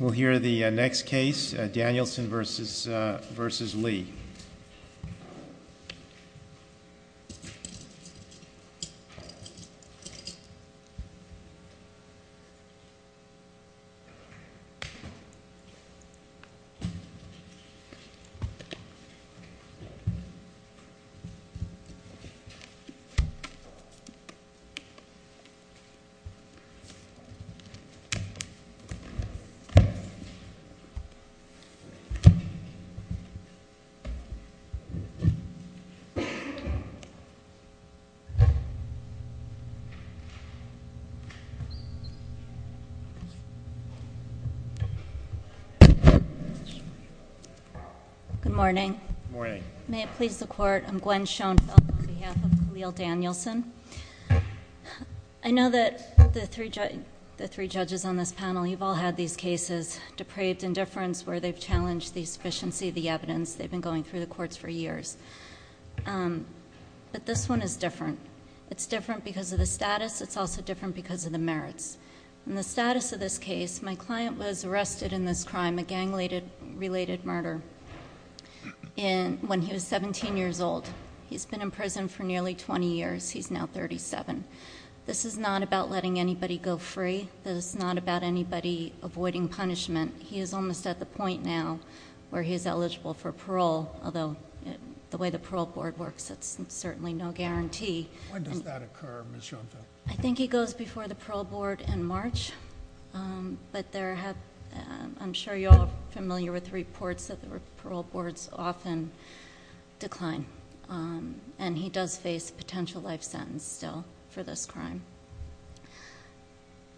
We'll hear the next case, Danielson v. Lee. Good morning. May it please the court, I'm Gwen Schoenfeld on behalf of Kahlil Danielson. I know that the three judges on this panel, you've all had these cases, depraved indifference, where they've challenged the sufficiency of the evidence. They've been going through the courts for years. But this one is different. It's different because of the status. It's also different because of the merits. In the status of this case, my client was arrested in this crime, a gang-related murder, when he was 17 years old. He's been in prison for nearly 20 years. He's now 37. This is not about letting anybody go free. This is not about anybody avoiding punishment. He is almost at the point now where he is eligible for parole, although the way the parole board works, that's certainly no guarantee. When does that occur, Ms. Schoenfeld? I think he goes before the parole board in March. But I'm sure you all are familiar with the reports that the parole boards often decline, and he does face a potential life sentence still for this crime.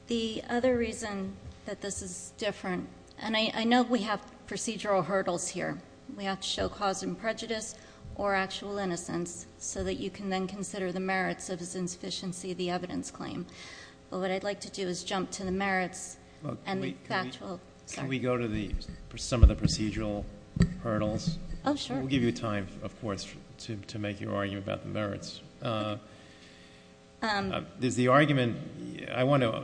The other reason that this is different, and I know we have procedural hurdles here. We have to show cause and prejudice or actual innocence so that you can then consider the merits of his insufficiency of the evidence claim. What I'd like to do is jump to the merits. Can we go to some of the procedural hurdles? Oh, sure. We'll give you time, of course, to make your argument about the merits. I want to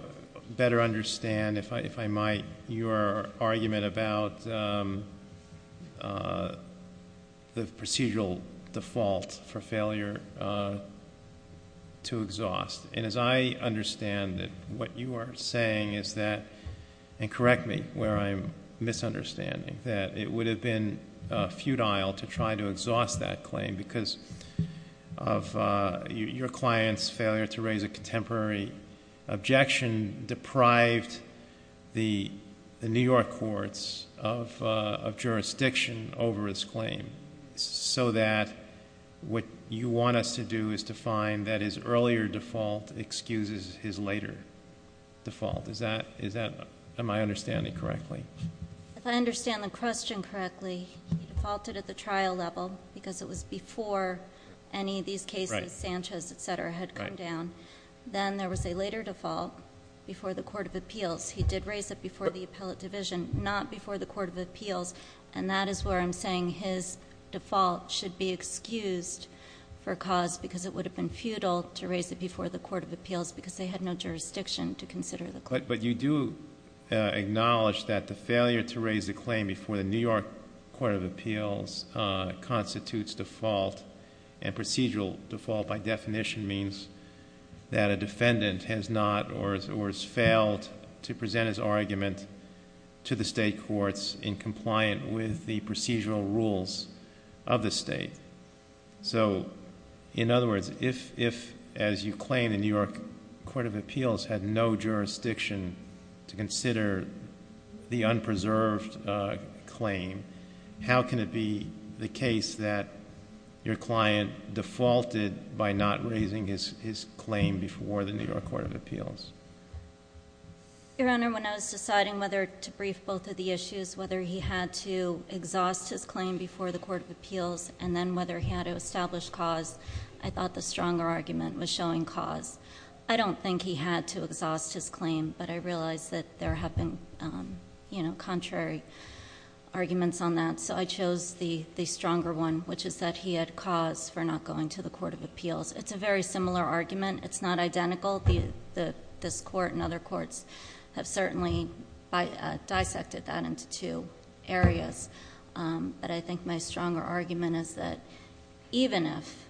better understand, if I might, your argument about the procedural default for failure to exhaust. As I understand it, what you are saying is that, and correct me where I'm misunderstanding, that it would have been futile to try to exhaust that claim because of your client's failure to raise a contemporary objection deprived the New York courts of jurisdiction over his claim so that what you want us to do is to find that his earlier default excuses his later default. Am I understanding correctly? If I understand the question correctly, he defaulted at the trial level because it was before any of these cases, Sanchez, etc., had come down. Then there was a later default before the court of appeals. He did raise it before the appellate division, not before the court of appeals, and that is where I'm saying his default should be excused for cause because it would have been futile to raise it before the court of appeals because they had no jurisdiction to consider the claim. But you do acknowledge that the failure to raise the claim before the New York court of appeals constitutes default, and procedural default, by definition, means that a defendant has not or has failed to present his argument to the state courts in compliance with the procedural rules of the state. In other words, if, as you claim, the New York court of appeals had no jurisdiction to consider the unpreserved claim, how can it be the case that your client defaulted by not raising his claim before the New York court of appeals? Your Honor, when I was deciding whether to brief both of the issues, whether he had to exhaust his claim before the court of appeals and then whether he had to establish cause, I thought the stronger argument was showing cause. I don't think he had to exhaust his claim, but I realize that there have been contrary arguments on that. And so I chose the stronger one, which is that he had cause for not going to the court of appeals. It's a very similar argument. It's not identical. This court and other courts have certainly dissected that into two areas. But I think my stronger argument is that even if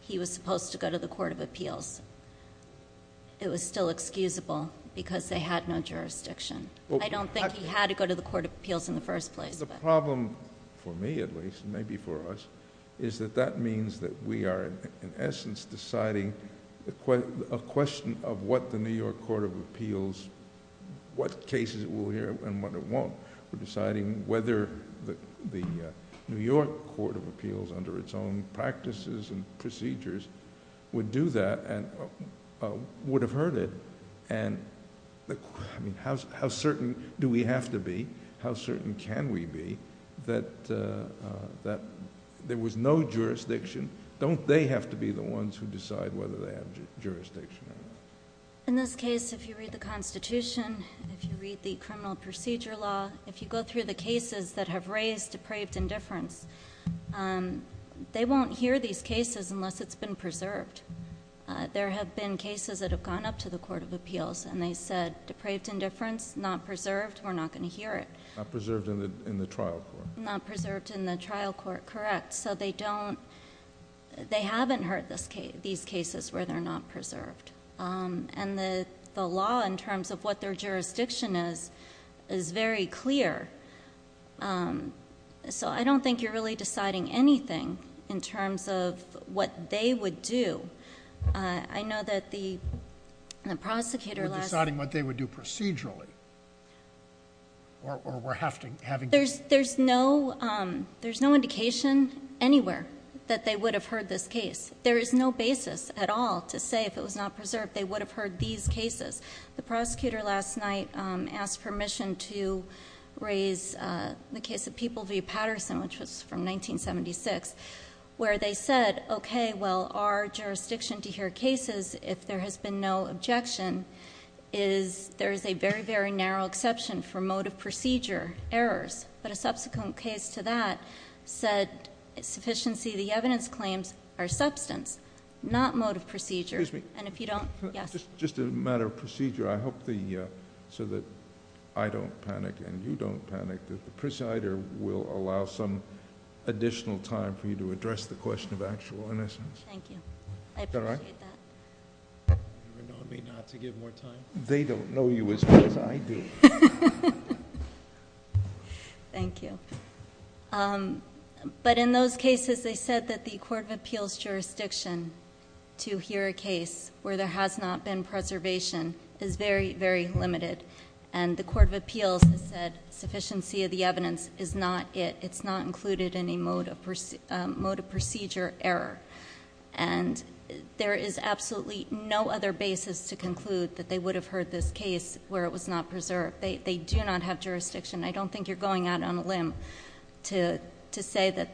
he was supposed to go to the court of appeals, it was still excusable because they had no jurisdiction. I don't think he had to go to the court of appeals in the first place. The problem, for me at least, maybe for us, is that that means that we are, in essence, deciding a question of what the New York court of appeals... what cases it will hear and what it won't. We're deciding whether the New York court of appeals, under its own practices and procedures, would do that and would have heard it. How certain do we have to be? How certain can we be that there was no jurisdiction? Don't they have to be the ones who decide whether they have jurisdiction? In this case, if you read the Constitution, if you read the criminal procedure law, if you go through the cases that have raised depraved indifference, they won't hear these cases unless it's been preserved. There have been cases that have gone up to the court of appeals and they said, depraved indifference, not preserved, we're not going to hear it. Not preserved in the trial court. Not preserved in the trial court, correct. They haven't heard these cases where they're not preserved. The law, in terms of what their jurisdiction is, is very clear. I don't think you're really deciding anything in terms of what they would do. I know that the prosecutor last... You're deciding what they would do procedurally or we're having to... There's no indication anywhere that they would have heard this case. There is no basis at all to say if it was not preserved, they would have heard these cases. The prosecutor last night asked permission to raise the case of People v. Patterson, which was from 1976, where they said, okay, well, our jurisdiction to hear cases, if there has been no objection, is there is a very, very narrow exception for mode of procedure errors. But a subsequent case to that said sufficiency of the evidence claims are substance, not mode of procedure. Excuse me. And if you don't... Yes. Just a matter of procedure, I hope so that I don't panic and you don't panic, that the presider will allow some additional time for you to address the question of actual innocence. Thank you. Is that all right? I appreciate that. You're nodding not to give more time. They don't know you as much as I do. Thank you. But in those cases, they said that the Court of Appeals jurisdiction to hear a case where there has not been preservation is very, very limited. And the Court of Appeals has said sufficiency of the evidence is not it. It's not included in a mode of procedure error. And there is absolutely no other basis to conclude that they would have heard this case where it was not preserved. They do not have jurisdiction. I don't think you're going out on a limb to say that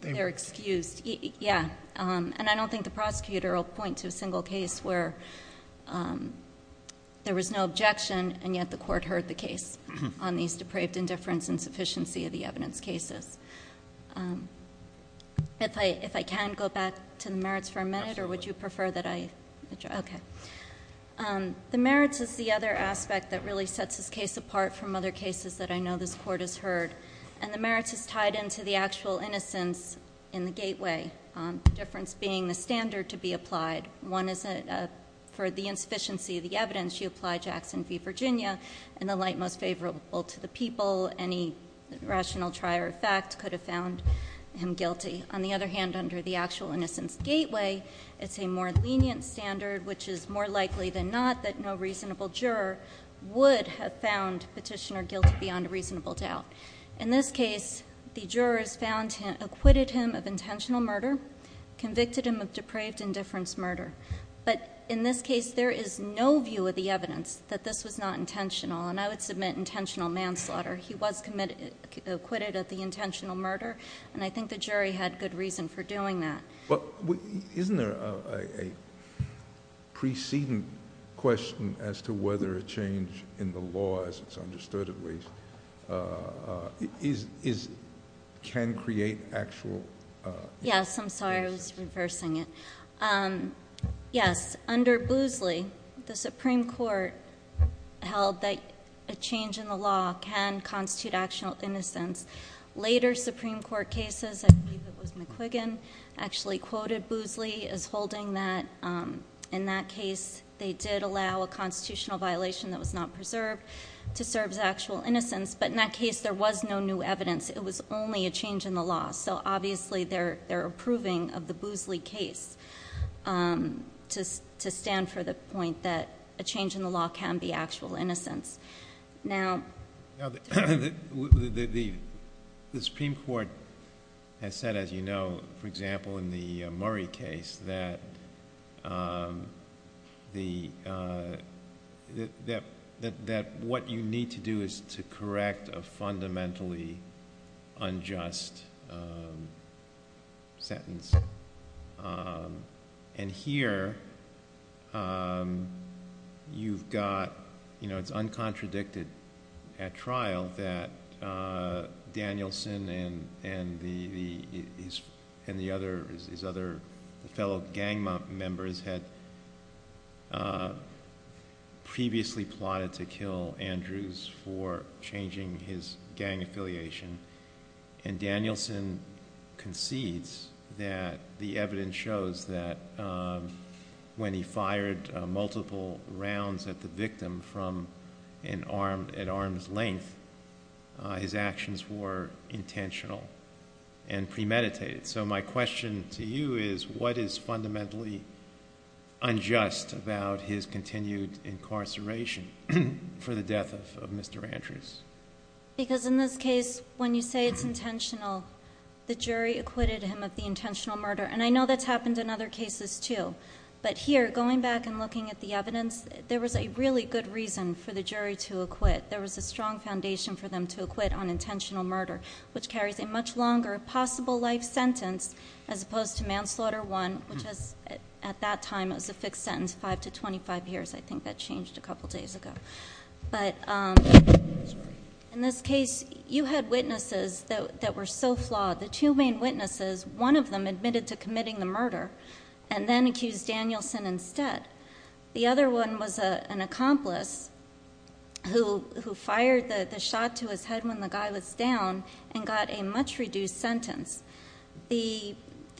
they're excused. Yeah. And I don't think the prosecutor will point to a single case where there was no objection and yet the court heard the case on these depraved indifference and sufficiency of the evidence cases. If I can go back to the merits for a minute or would you prefer that I... Absolutely. Okay. The merits is the other aspect that really sets this case apart from other cases that I know this court has heard. And the merits is tied into the actual innocence in the gateway. The difference being the standard to be applied. One is for the insufficiency of the evidence, you apply Jackson v. Virginia in the light most favorable to the people. Any rational try or effect could have found him guilty. On the other hand, under the actual innocence gateway, it's a more lenient standard which is more likely than not that no reasonable juror would have found petitioner guilty beyond a reasonable doubt. In this case, the jurors acquitted him of intentional murder, convicted him of depraved indifference murder. But in this case, there is no view of the evidence that this was not intentional. And I would submit intentional manslaughter. He was acquitted of the intentional murder. And I think the jury had good reason for doing that. Isn't there a preceding question as to whether a change in the law, as it's understood at least, can create actual innocence? Yes. I'm sorry. I was reversing it. Yes. Under Boozley, the Supreme Court held that a change in the law can constitute actual innocence. Later Supreme Court cases, I believe it was McQuiggan actually quoted Boozley as holding that. In that case, they did allow a constitutional violation that was not preserved to serve as actual innocence. But in that case, there was no new evidence. It was only a change in the law. So obviously, they're approving of the Boozley case to stand for the point that a change in the law can be actual innocence. The Supreme Court has said, as you know, for example, in the Murray case, that what you need to do is to correct a fundamentally unjust sentence. And here, it's uncontradicted at trial that Danielson and his other fellow gang members had previously plotted to kill Andrews for changing his gang affiliation. And Danielson concedes that the evidence shows that when he fired multiple rounds at the victim at arm's length, his actions were intentional and premeditated. So my question to you is, what is fundamentally unjust about his continued incarceration for the death of Mr. Andrews? Because in this case, when you say it's intentional, the jury acquitted him of the intentional murder. And I know that's happened in other cases, too. But here, going back and looking at the evidence, there was a really good reason for the jury to acquit. There was a strong foundation for them to acquit on intentional murder, which carries a much longer possible life sentence as opposed to manslaughter one, which at that time was a fixed sentence, five to 25 years. I think that changed a couple days ago. But in this case, you had witnesses that were so flawed. The two main witnesses, one of them admitted to committing the murder and then accused Danielson instead. The other one was an accomplice who fired the shot to his head when the guy was down and got a much reduced sentence. The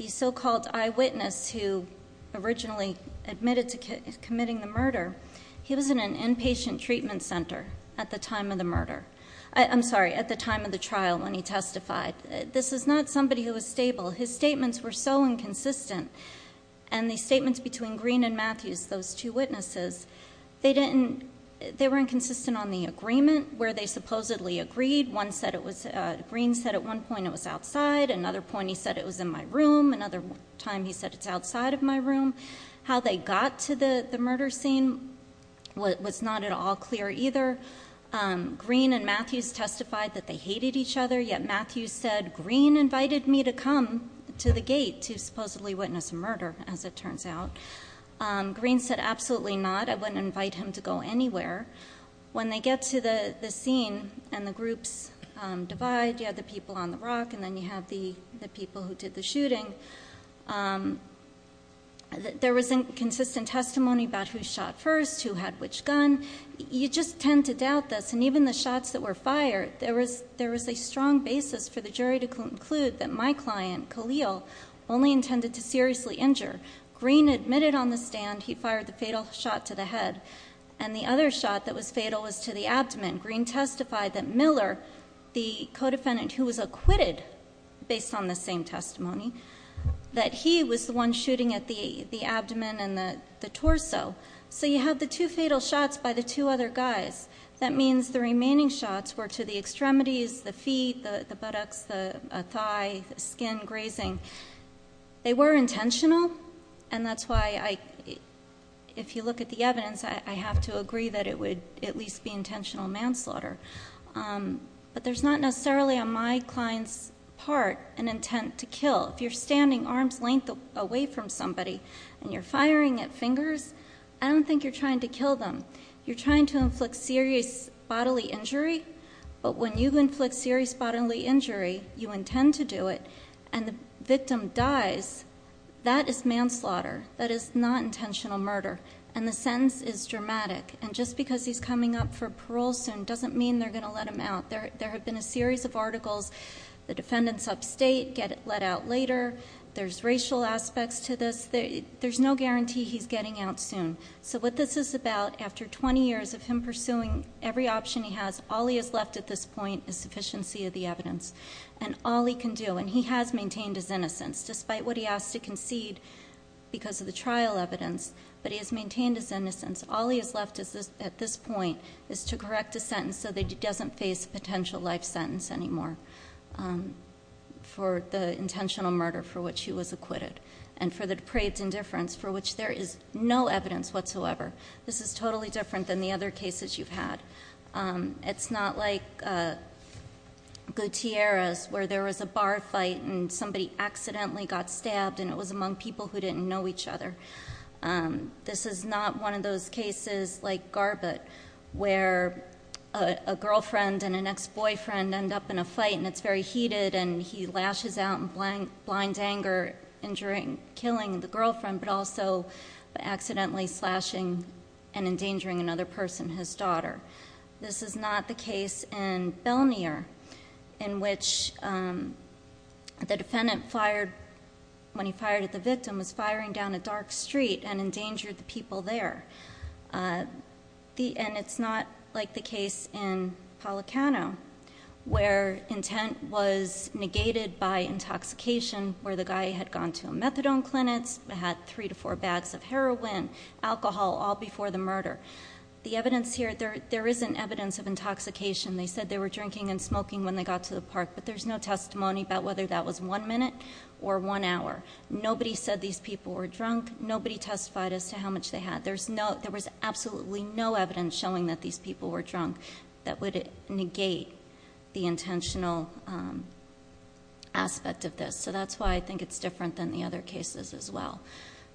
so-called eyewitness who originally admitted to committing the murder, he was in an inpatient treatment center at the time of the murder. I'm sorry, at the time of the trial when he testified. This is not somebody who was stable. His statements were so inconsistent. And the statements between Green and Matthews, those two witnesses, they were inconsistent on the agreement where they supposedly agreed. One said it was, Green said at one point it was outside, another point he said it was in my room, another time he said it's outside of my room. How they got to the murder scene was not at all clear either. Green and Matthews testified that they hated each other, yet Matthews said, Green invited me to come to the gate to supposedly witness a murder, as it turns out. Green said, absolutely not, I wouldn't invite him to go anywhere. When they get to the scene and the groups divide, you have the people on the rock, and then you have the people who did the shooting. There was inconsistent testimony about who shot first, who had which gun. You just tend to doubt this, and even the shots that were fired, there was a strong basis for the jury to conclude that my client, Khalil, only intended to seriously injure. Green admitted on the stand he fired the fatal shot to the head. And the other shot that was fatal was to the abdomen. Green testified that Miller, the co-defendant who was acquitted based on the same testimony, that he was the one shooting at the abdomen and the torso. So you have the two fatal shots by the two other guys. That means the remaining shots were to the extremities, the feet, the buttocks, the thigh, skin, grazing. They were intentional, and that's why, if you look at the evidence, I have to agree that it would at least be intentional manslaughter. But there's not necessarily on my client's part an intent to kill. If you're standing arm's length away from somebody and you're firing at fingers, I don't think you're trying to kill them. You're trying to inflict serious bodily injury, but when you inflict serious bodily injury, you intend to do it, and the victim dies, that is manslaughter. That is not intentional murder, and the sentence is dramatic. And just because he's coming up for parole soon doesn't mean they're going to let him out. There have been a series of articles, the defendant's upstate, get let out later. There's racial aspects to this. There's no guarantee he's getting out soon. So what this is about, after 20 years of him pursuing every option he has, all he has left at this point is sufficiency of the evidence. And all he can do, and he has maintained his innocence, despite what he asked to concede because of the trial evidence. But he has maintained his innocence. All he has left at this point is to correct a sentence so that he doesn't face a potential life sentence anymore for the intentional murder for which he was acquitted, and for the depraved indifference for which there is no evidence whatsoever. This is totally different than the other cases you've had. It's not like Gutierrez, where there was a bar fight and somebody accidentally got stabbed and it was among people who didn't know each other. This is not one of those cases like Garbutt, where a girlfriend and an ex-boyfriend end up in a fight and it's very heated and he lashes out in blind anger, injuring, killing the girlfriend, but also accidentally slashing and endangering another person, his daughter. This is not the case in Belnier, in which the defendant fired, when he fired at the victim, was firing down a dark street and endangered the people there. And it's not like the case in Policano, where intent was negated by intoxication, where the guy had gone to a methadone clinic, had three to four bags of heroin, alcohol, all before the murder. The evidence here, there isn't evidence of intoxication. They said they were drinking and smoking when they got to the park, but there's no testimony about whether that was one minute or one hour. Nobody said these people were drunk. Nobody testified as to how much they had. There was absolutely no evidence showing that these people were drunk. That would negate the intentional aspect of this. So that's why I think it's different than the other cases as well.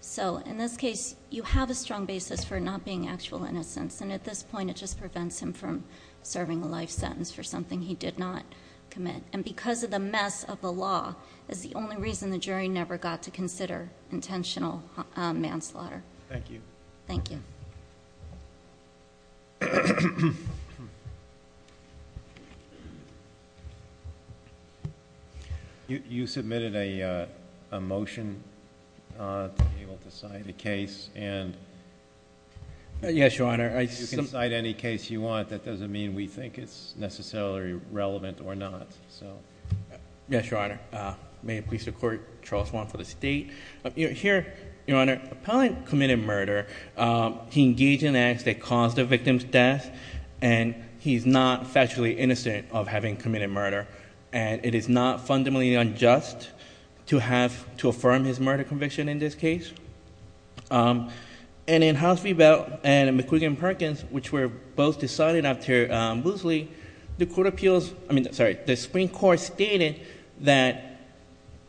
So in this case, you have a strong basis for not being actual innocents. And at this point, it just prevents him from serving a life sentence for something he did not commit. And because of the mess of the law, is the only reason the jury never got to consider intentional manslaughter. Thank you. Thank you. You submitted a motion to be able to cite a case and- Yes, your honor. You can cite any case you want. That doesn't mean we think it's necessarily relevant or not, so. Yes, your honor. May it please the court. Charles Wong for the state. Here, your honor, appellant committed murder. He engaged in acts that caused the victim's death. And he's not factually innocent of having committed murder. And it is not fundamentally unjust to have to affirm his murder conviction in this case. And in House Rebell and McQuiggan-Perkins, which were both decided after Boosley, the Supreme Court stated that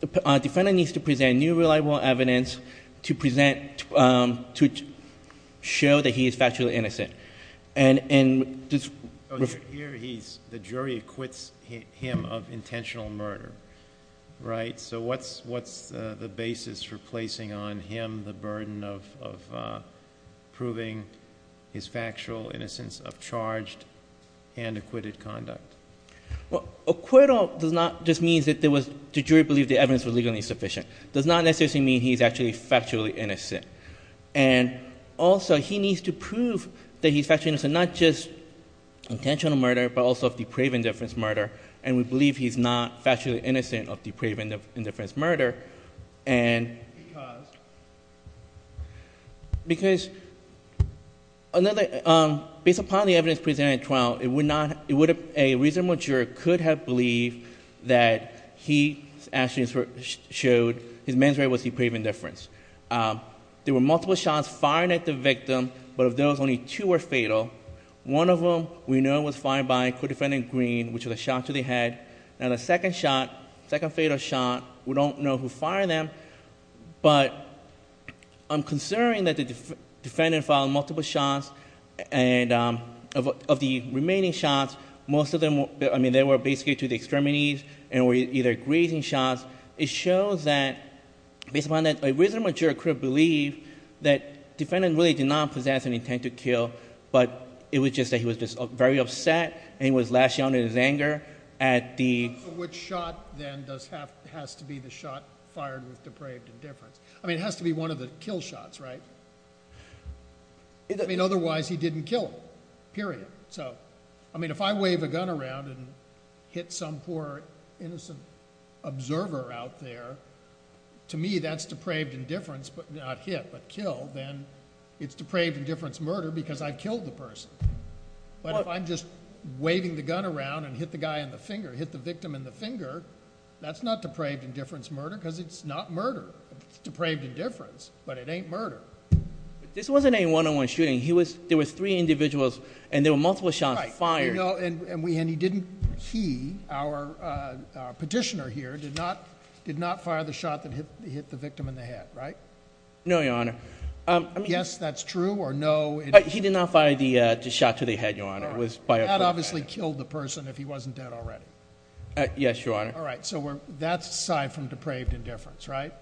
the defendant needs to present new reliable evidence to present, to show that he is factually innocent. Here he's, the jury acquits him of intentional murder, right? So what's the basis for placing on him the burden of proving his factual innocence of charged and acquitted conduct? Well, acquittal does not just mean that there was, the jury believed the evidence was legally sufficient. Does not necessarily mean he's actually factually innocent. And also, he needs to prove that he's factually innocent, not just intentional murder, but also of depraved indifference murder. And we believe he's not factually innocent of depraved indifference murder. And because another, based upon the evidence presented in trial, it would not, it would have, a reasonable juror could have believed that he actually showed his manslaughter was depraved indifference. There were multiple shots fired at the victim, but of those only two were fatal. One of them we know was fired by a co-defendant in green, which was a shot to the head. Now the second shot, second fatal shot, we don't know who fired them. But I'm concerned that the defendant filed multiple shots. And of the remaining shots, most of them, I mean, they were basically to the extremities, and were either grazing shots. It shows that, based upon that, a reasonable juror could have believed that defendant really did not possess an intent to kill. But it was just that he was just very upset, and was lashing out at his anger at the- Which shot then does have, has to be the shot fired with depraved indifference? I mean, it has to be one of the kill shots, right? I mean, otherwise he didn't kill him, period. So, I mean, if I wave a gun around and hit some poor innocent observer out there, to me that's depraved indifference, but not hit, but kill. Then it's depraved indifference murder because I killed the person. But if I'm just waving the gun around and hit the guy in the finger, hit the victim in the finger, that's not depraved indifference murder, because it's not murder. It's depraved indifference, but it ain't murder. This wasn't a one-on-one shooting. He was, there was three individuals, and there were multiple shots fired. No, and we, and he didn't, he, our petitioner here did not, did not fire the shot that hit the victim in the head, right? No, your honor. Yes, that's true, or no. He did not fire the shot to the head, your honor. It was fired. That obviously killed the person if he wasn't dead already. Yes, your honor. All right, so we're, that's aside from depraved indifference, right?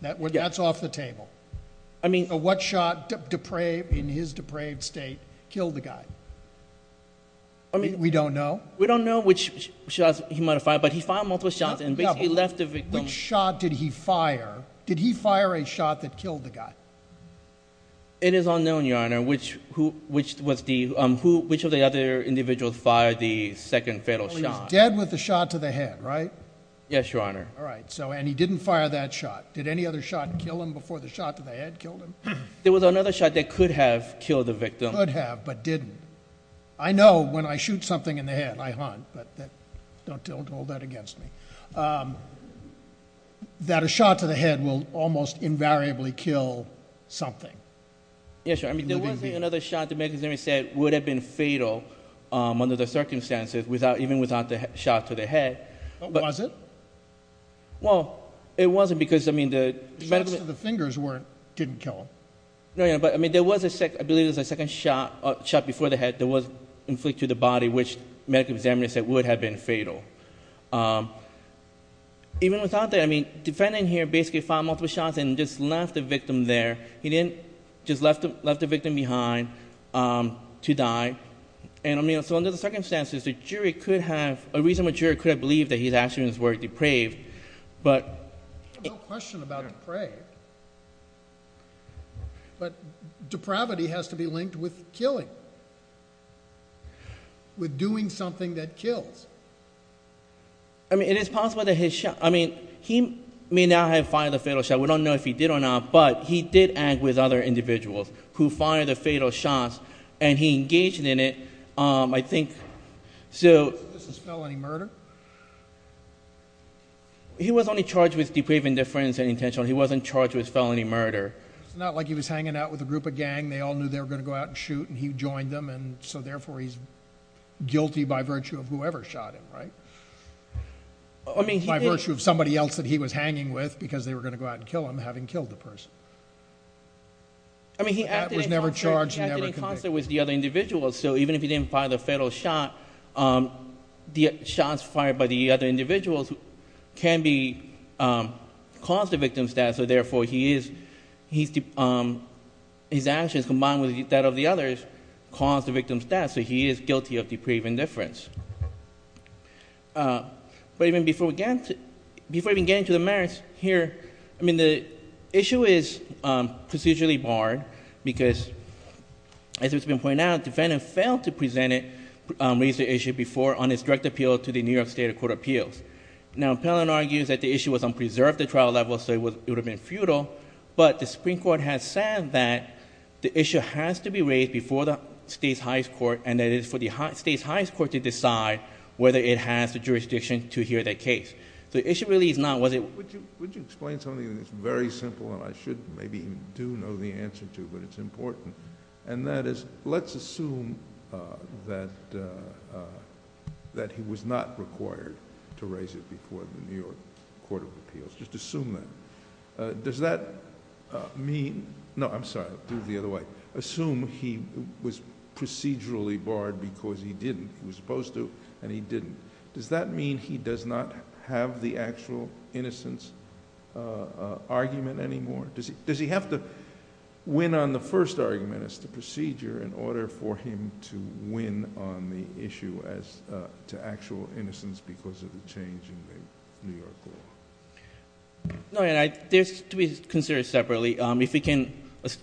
That's off the table. I mean. So what shot depraved, in his depraved state, killed the guy? I mean. We don't know. We don't know which shots he might have fired, but he fired multiple shots and basically left the victim. Which shot did he fire? Did he fire a shot that killed the guy? It is unknown, your honor, which, who, which was the who, which of the other individuals fired the second fatal shot. Well, he's dead with the shot to the head, right? Yes, your honor. All right, so, and he didn't fire that shot. Did any other shot kill him before the shot to the head killed him? There was another shot that could have killed the victim. Could have, but didn't. I know when I shoot something in the head, I haunt, but that, don't, don't hold that against me that a shot to the head will almost invariably kill something. Yes, your honor, I mean, there wasn't another shot the medical examiner said would have been fatal under the circumstances without, even without the shot to the head. But. Was it? Well, it wasn't because, I mean, the. The shots to the fingers weren't, didn't kill him. No, yeah, but, I mean, there was a second, I believe it was a second shot, shot before the head that was inflicted to the body, which medical examiner said would have been fatal. Even without that, I mean, defendant here basically fired multiple shots and just left the victim there, he didn't, just left the, left the victim behind to die. And I mean, so under the circumstances, the jury could have, a reasonable jury could have believed that his actions were depraved, but. No question about depraved, but depravity has to be linked with killing. With doing something that kills. I mean, it is possible that his shot, I mean, he may not have fired the fatal shot, we don't know if he did or not, but he did act with other individuals who fired the fatal shots, and he engaged in it, I think, so. This is felony murder? He was only charged with depraving the friend's intention, he wasn't charged with felony murder. It's not like he was hanging out with a group of gang, they all knew they were gonna go out and shoot, and he joined them, and so therefore, he's guilty by virtue of whoever shot him, right? By virtue of somebody else that he was hanging with, because they were gonna go out and kill him, having killed the person. I mean, he acted in concert- That was never charged, he never convicted. He acted in concert with the other individuals, so even if he didn't fire the fatal shot, the shots fired by the other individuals His actions combined with that of the others caused the victim's death, so he is guilty of depraving the friend's. But even before we get into the merits here, I mean, the issue is procedurally barred, because as it's been pointed out, defendant failed to raise the issue before on his direct appeal to the New York State Court of Appeals. Now, appellant argues that the issue was unpreserved at trial level, so it would have been futile, but the Supreme Court has said that the issue has to be raised before the state's highest court, and it is for the state's highest court to decide whether it has the jurisdiction to hear that case. The issue really is not, was it- Would you explain something that's very simple, and I should, maybe, do know the answer to, but it's important. And that is, let's assume that he was not required to raise it before the New York Court of Appeals, just assume that. Does that mean, no, I'm sorry, I'll do it the other way. Assume he was procedurally barred because he didn't, he was supposed to, and he didn't. Does that mean he does not have the actual innocence argument anymore? Does he have to win on the first argument as the procedure in order for him to win on the issue as to actual innocence because of the change in the New York law? No, and there's, to be considered separately, if we can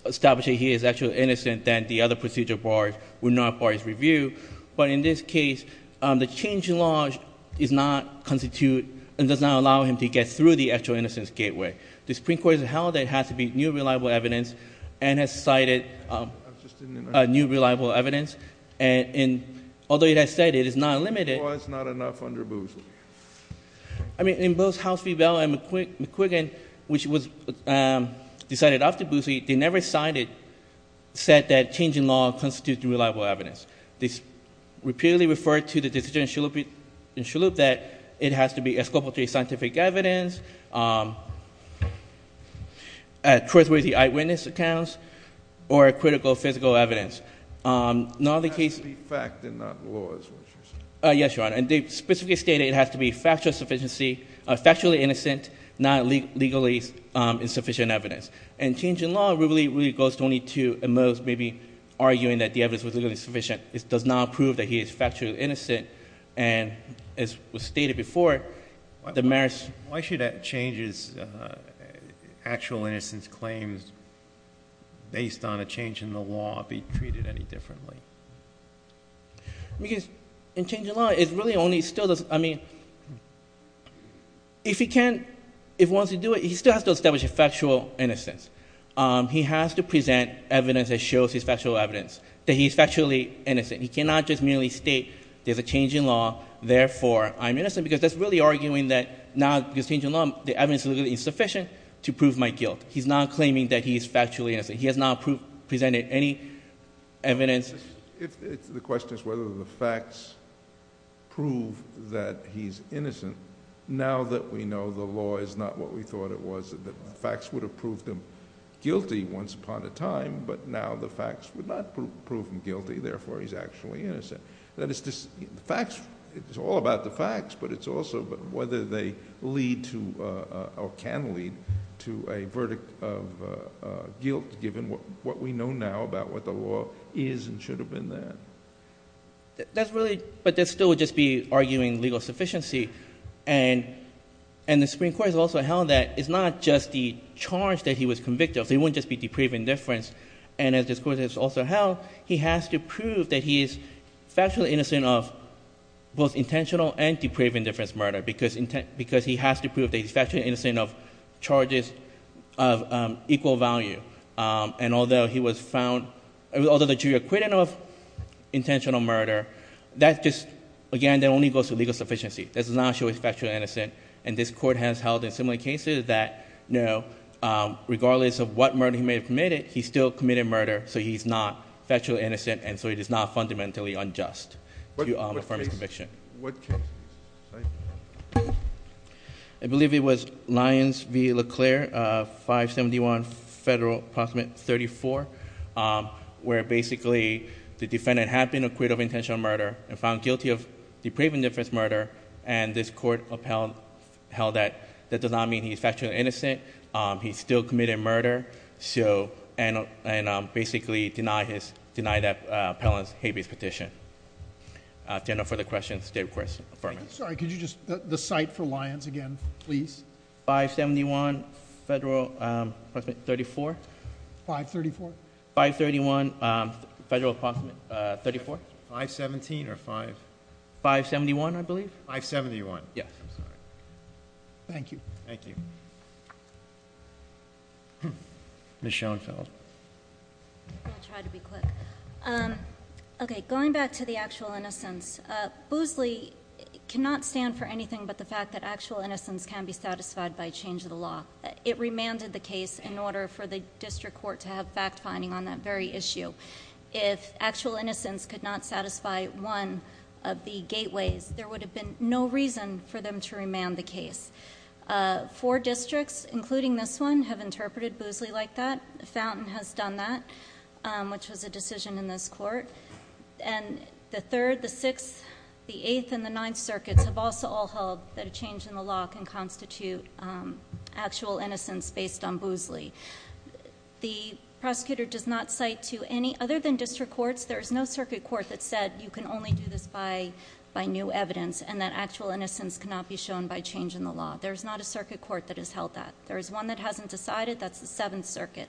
establish that he is actually innocent, then the other procedure barred would not bar his review. But in this case, the change in law is not constitute, and does not allow him to get through the actual innocence gateway. The Supreme Court has held that it has to be new reliable evidence, and has cited a new reliable evidence. And although it has said it is not limited- It was not enough under Boozley. I mean, in both House v. Bell and McQuiggan, which was decided after Boozley, they never said that change in law constitutes new reliable evidence. They repeatedly referred to the decision in Shalhoub that it has to be a scope of scientific evidence, trustworthy eyewitness accounts, or a critical physical evidence. Now the case- It has to be fact and not laws, what you're saying. Yes, Your Honor, and they specifically stated it has to be factual sufficiency, factually innocent, not legally insufficient evidence. And change in law really, really goes only to, at most, maybe arguing that the evidence was legally sufficient. It does not prove that he is factually innocent, and as was stated before, the merits- Why should changes, actual innocence claims, based on a change in the law, be treated any differently? Because in change in law, it really only still does- I mean, if he wants to do it, he still has to establish a factual innocence. He has to present evidence that shows he's factual evidence, that he's factually innocent. He cannot just merely state there's a change in law, therefore I'm innocent, because that's really arguing that now, because change in law, the evidence is insufficient to prove my guilt. He's not claiming that he's factually innocent. He has not presented any evidence- If the question is whether the facts prove that he's innocent, now that we know the law is not what we thought it was, that the facts would have proved him guilty once upon a time, but now the facts would not prove him guilty, therefore he's actually innocent. That it's just, the facts, it's all about the facts, but it's also whether they lead to, or can lead to a verdict of guilt, given what we know now about what the law is and should have been there. That's really, but that still would just be arguing legal sufficiency, and the Supreme Court has also held that it's not just the charge that he was convicted of, it wouldn't just be depraved indifference. And as this court has also held, he has to prove that he is factually innocent of both intentional and he's factually innocent of charges of equal value. And although he was found, although the jury acquitted him of intentional murder, that just, again, that only goes to legal sufficiency, that does not show he's factually innocent. And this court has held in similar cases that no, regardless of what murder he may have committed, he still committed murder, so he's not factually innocent, and so he is not fundamentally unjust to affirm his conviction. What case? I believe it was Lyons v. Leclerc, 571 Federal, Approximate 34, where basically the defendant had been acquitted of intentional murder and found guilty of depraved indifference murder, and this court held that that does not mean he's factually innocent. He still committed murder, and basically denied that appellant's habeas petition. Do you have no further questions? State of course, affirmative. Sorry, could you just, the site for Lyons again, please? 571 Federal, Approximate 34. 534. 531 Federal, Approximate 34. 517 or 5? 571, I believe. 571. Yes. Thank you. Thank you. Ms. Schoenfeld. I'm going to try to be quick. Okay, going back to the actual innocence. Boozley cannot stand for anything but the fact that actual innocence can be satisfied by change of the law. It remanded the case in order for the district court to have fact finding on that very issue. If actual innocence could not satisfy one of the gateways, there would have been no reason for them to remand the case. Four districts, including this one, have interpreted Boozley like that. Fountain has done that, which was a decision in this court. And the third, the sixth, the eighth, and the ninth circuits have also all held that a change in the law can constitute actual innocence based on Boozley. The prosecutor does not cite to any, other than district courts, there is no circuit court that said you can only do this by new evidence and that actual innocence cannot be shown by change in the law. There's not a circuit court that has held that. There is one that hasn't decided, that's the seventh circuit.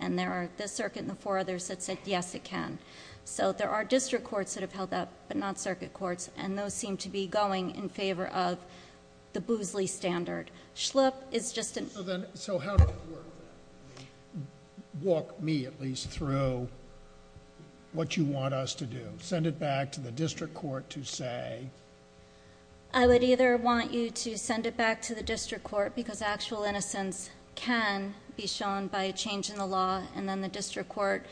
And there are this circuit and the four others that said, yes it can. So there are district courts that have held that, but not circuit courts. And those seem to be going in favor of the Boozley standard. Schlupp is just an- So then, so how do we work that? Walk me at least through what you want us to do. Send it back to the district court to say. I would either want you to send it back to the district court, because actual innocence can be shown by a change in the law. And then the district court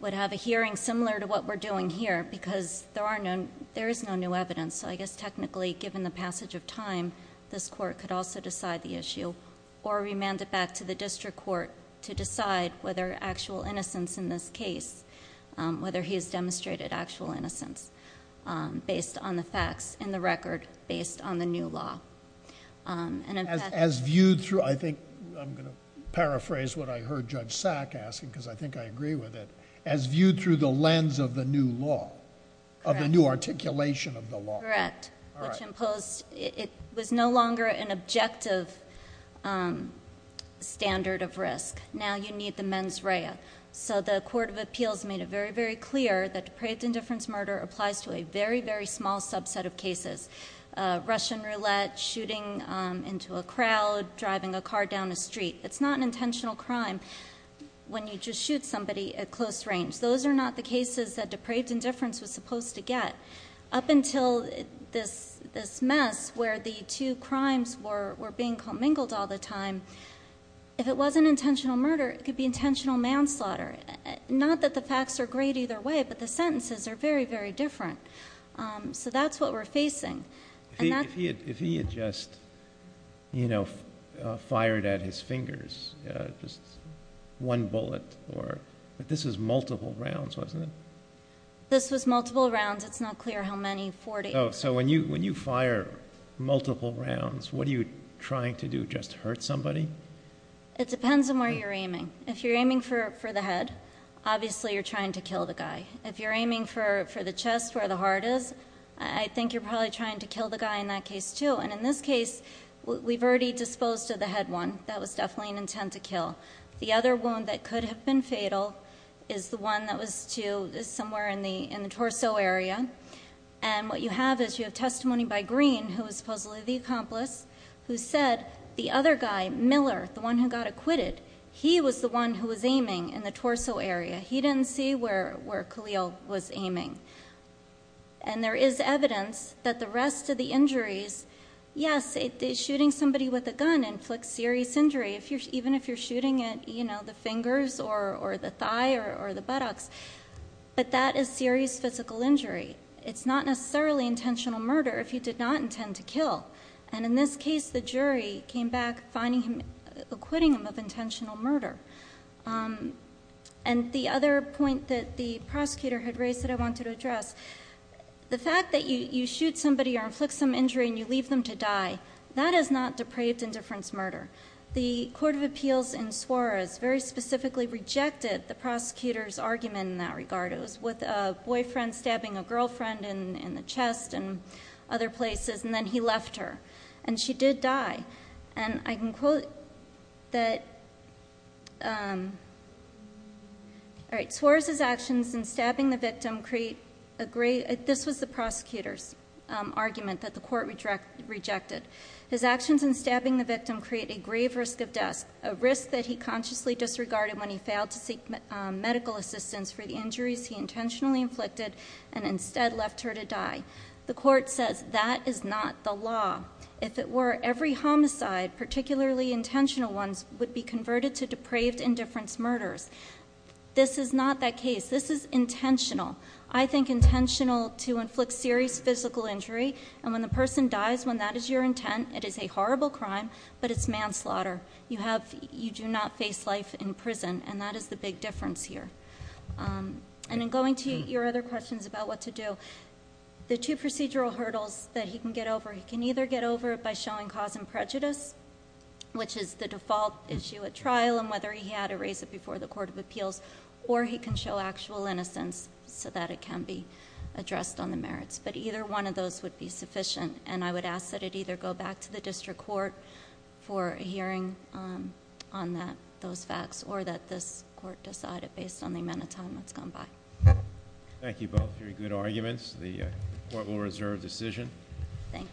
would have a hearing similar to what we're doing here, because there is no new evidence. So I guess technically, given the passage of time, this court could also decide the issue. Or remand it back to the district court to decide whether actual innocence in this case, whether he has demonstrated actual innocence based on the facts in the record, based on the new law. And in fact- As viewed through, I think I'm going to paraphrase what I heard Judge Sack asking, because I think I agree with it. As viewed through the lens of the new law, of the new articulation of the law. Correct, which imposed, it was no longer an objective standard of risk. Now you need the mens rea. So the court of appeals made it very, very clear that depraved indifference murder applies to a very, very small subset of cases. Russian roulette, shooting into a crowd, driving a car down a street. It's not an intentional crime when you just shoot somebody at close range. Those are not the cases that depraved indifference was supposed to get. Up until this mess where the two crimes were being commingled all the time. If it wasn't intentional murder, it could be intentional manslaughter. Not that the facts are great either way, but the sentences are very, very different. So that's what we're facing. And that- If he had just fired at his fingers, just one bullet, but this was multiple rounds, wasn't it? This was multiple rounds. It's not clear how many, 40. So when you fire multiple rounds, what are you trying to do, just hurt somebody? It depends on where you're aiming. If you're aiming for the head, obviously you're trying to kill the guy. If you're aiming for the chest where the heart is, I think you're probably trying to kill the guy in that case too. And in this case, we've already disposed of the head one. That was definitely an intent to kill. The other wound that could have been fatal is the one that was somewhere in the torso area. And what you have is you have testimony by Green, who is supposedly the accomplice, who said the other guy, Miller, the one who got acquitted. He was the one who was aiming in the torso area. He didn't see where Khalil was aiming. And there is evidence that the rest of the injuries, yes, shooting somebody with a gun inflicts serious injury, even if you're shooting at the fingers, or the thigh, or the buttocks. But that is serious physical injury. It's not necessarily intentional murder if you did not intend to kill. And in this case, the jury came back finding him, acquitting him of intentional murder. And the other point that the prosecutor had raised that I wanted to address, the fact that you shoot somebody or inflict some injury and you leave them to die, that is not depraved indifference murder. The Court of Appeals in Suarez very specifically rejected the prosecutor's argument in that regard. It was with a boyfriend stabbing a girlfriend in the chest and other places, and then he left her. And she did die. And I can quote that, all right, Suarez's actions in stabbing the victim create a great, this was the prosecutor's argument that the court rejected. His actions in stabbing the victim create a grave risk of death. A risk that he consciously disregarded when he failed to seek medical assistance for the injuries he intentionally inflicted and instead left her to die. The court says that is not the law. If it were, every homicide, particularly intentional ones, would be converted to depraved indifference murders. This is not that case. This is intentional. I think intentional to inflict serious physical injury, and when the person dies, when that is your intent, it is a horrible crime, but it's manslaughter. You do not face life in prison, and that is the big difference here. And in going to your other questions about what to do, the two procedural hurdles that he can get over, he can either get over it by showing cause and prejudice, which is the default issue at trial and whether he had to raise it before the Court of Appeals, or he can show actual innocence so that it can be addressed on the merits. But either one of those would be sufficient, and I would ask that it either go back to the district court for a hearing on those facts, or that this court decide it based on the amount of time that's gone by. Thank you both. Very good arguments. The court will reserve decision. Thank you.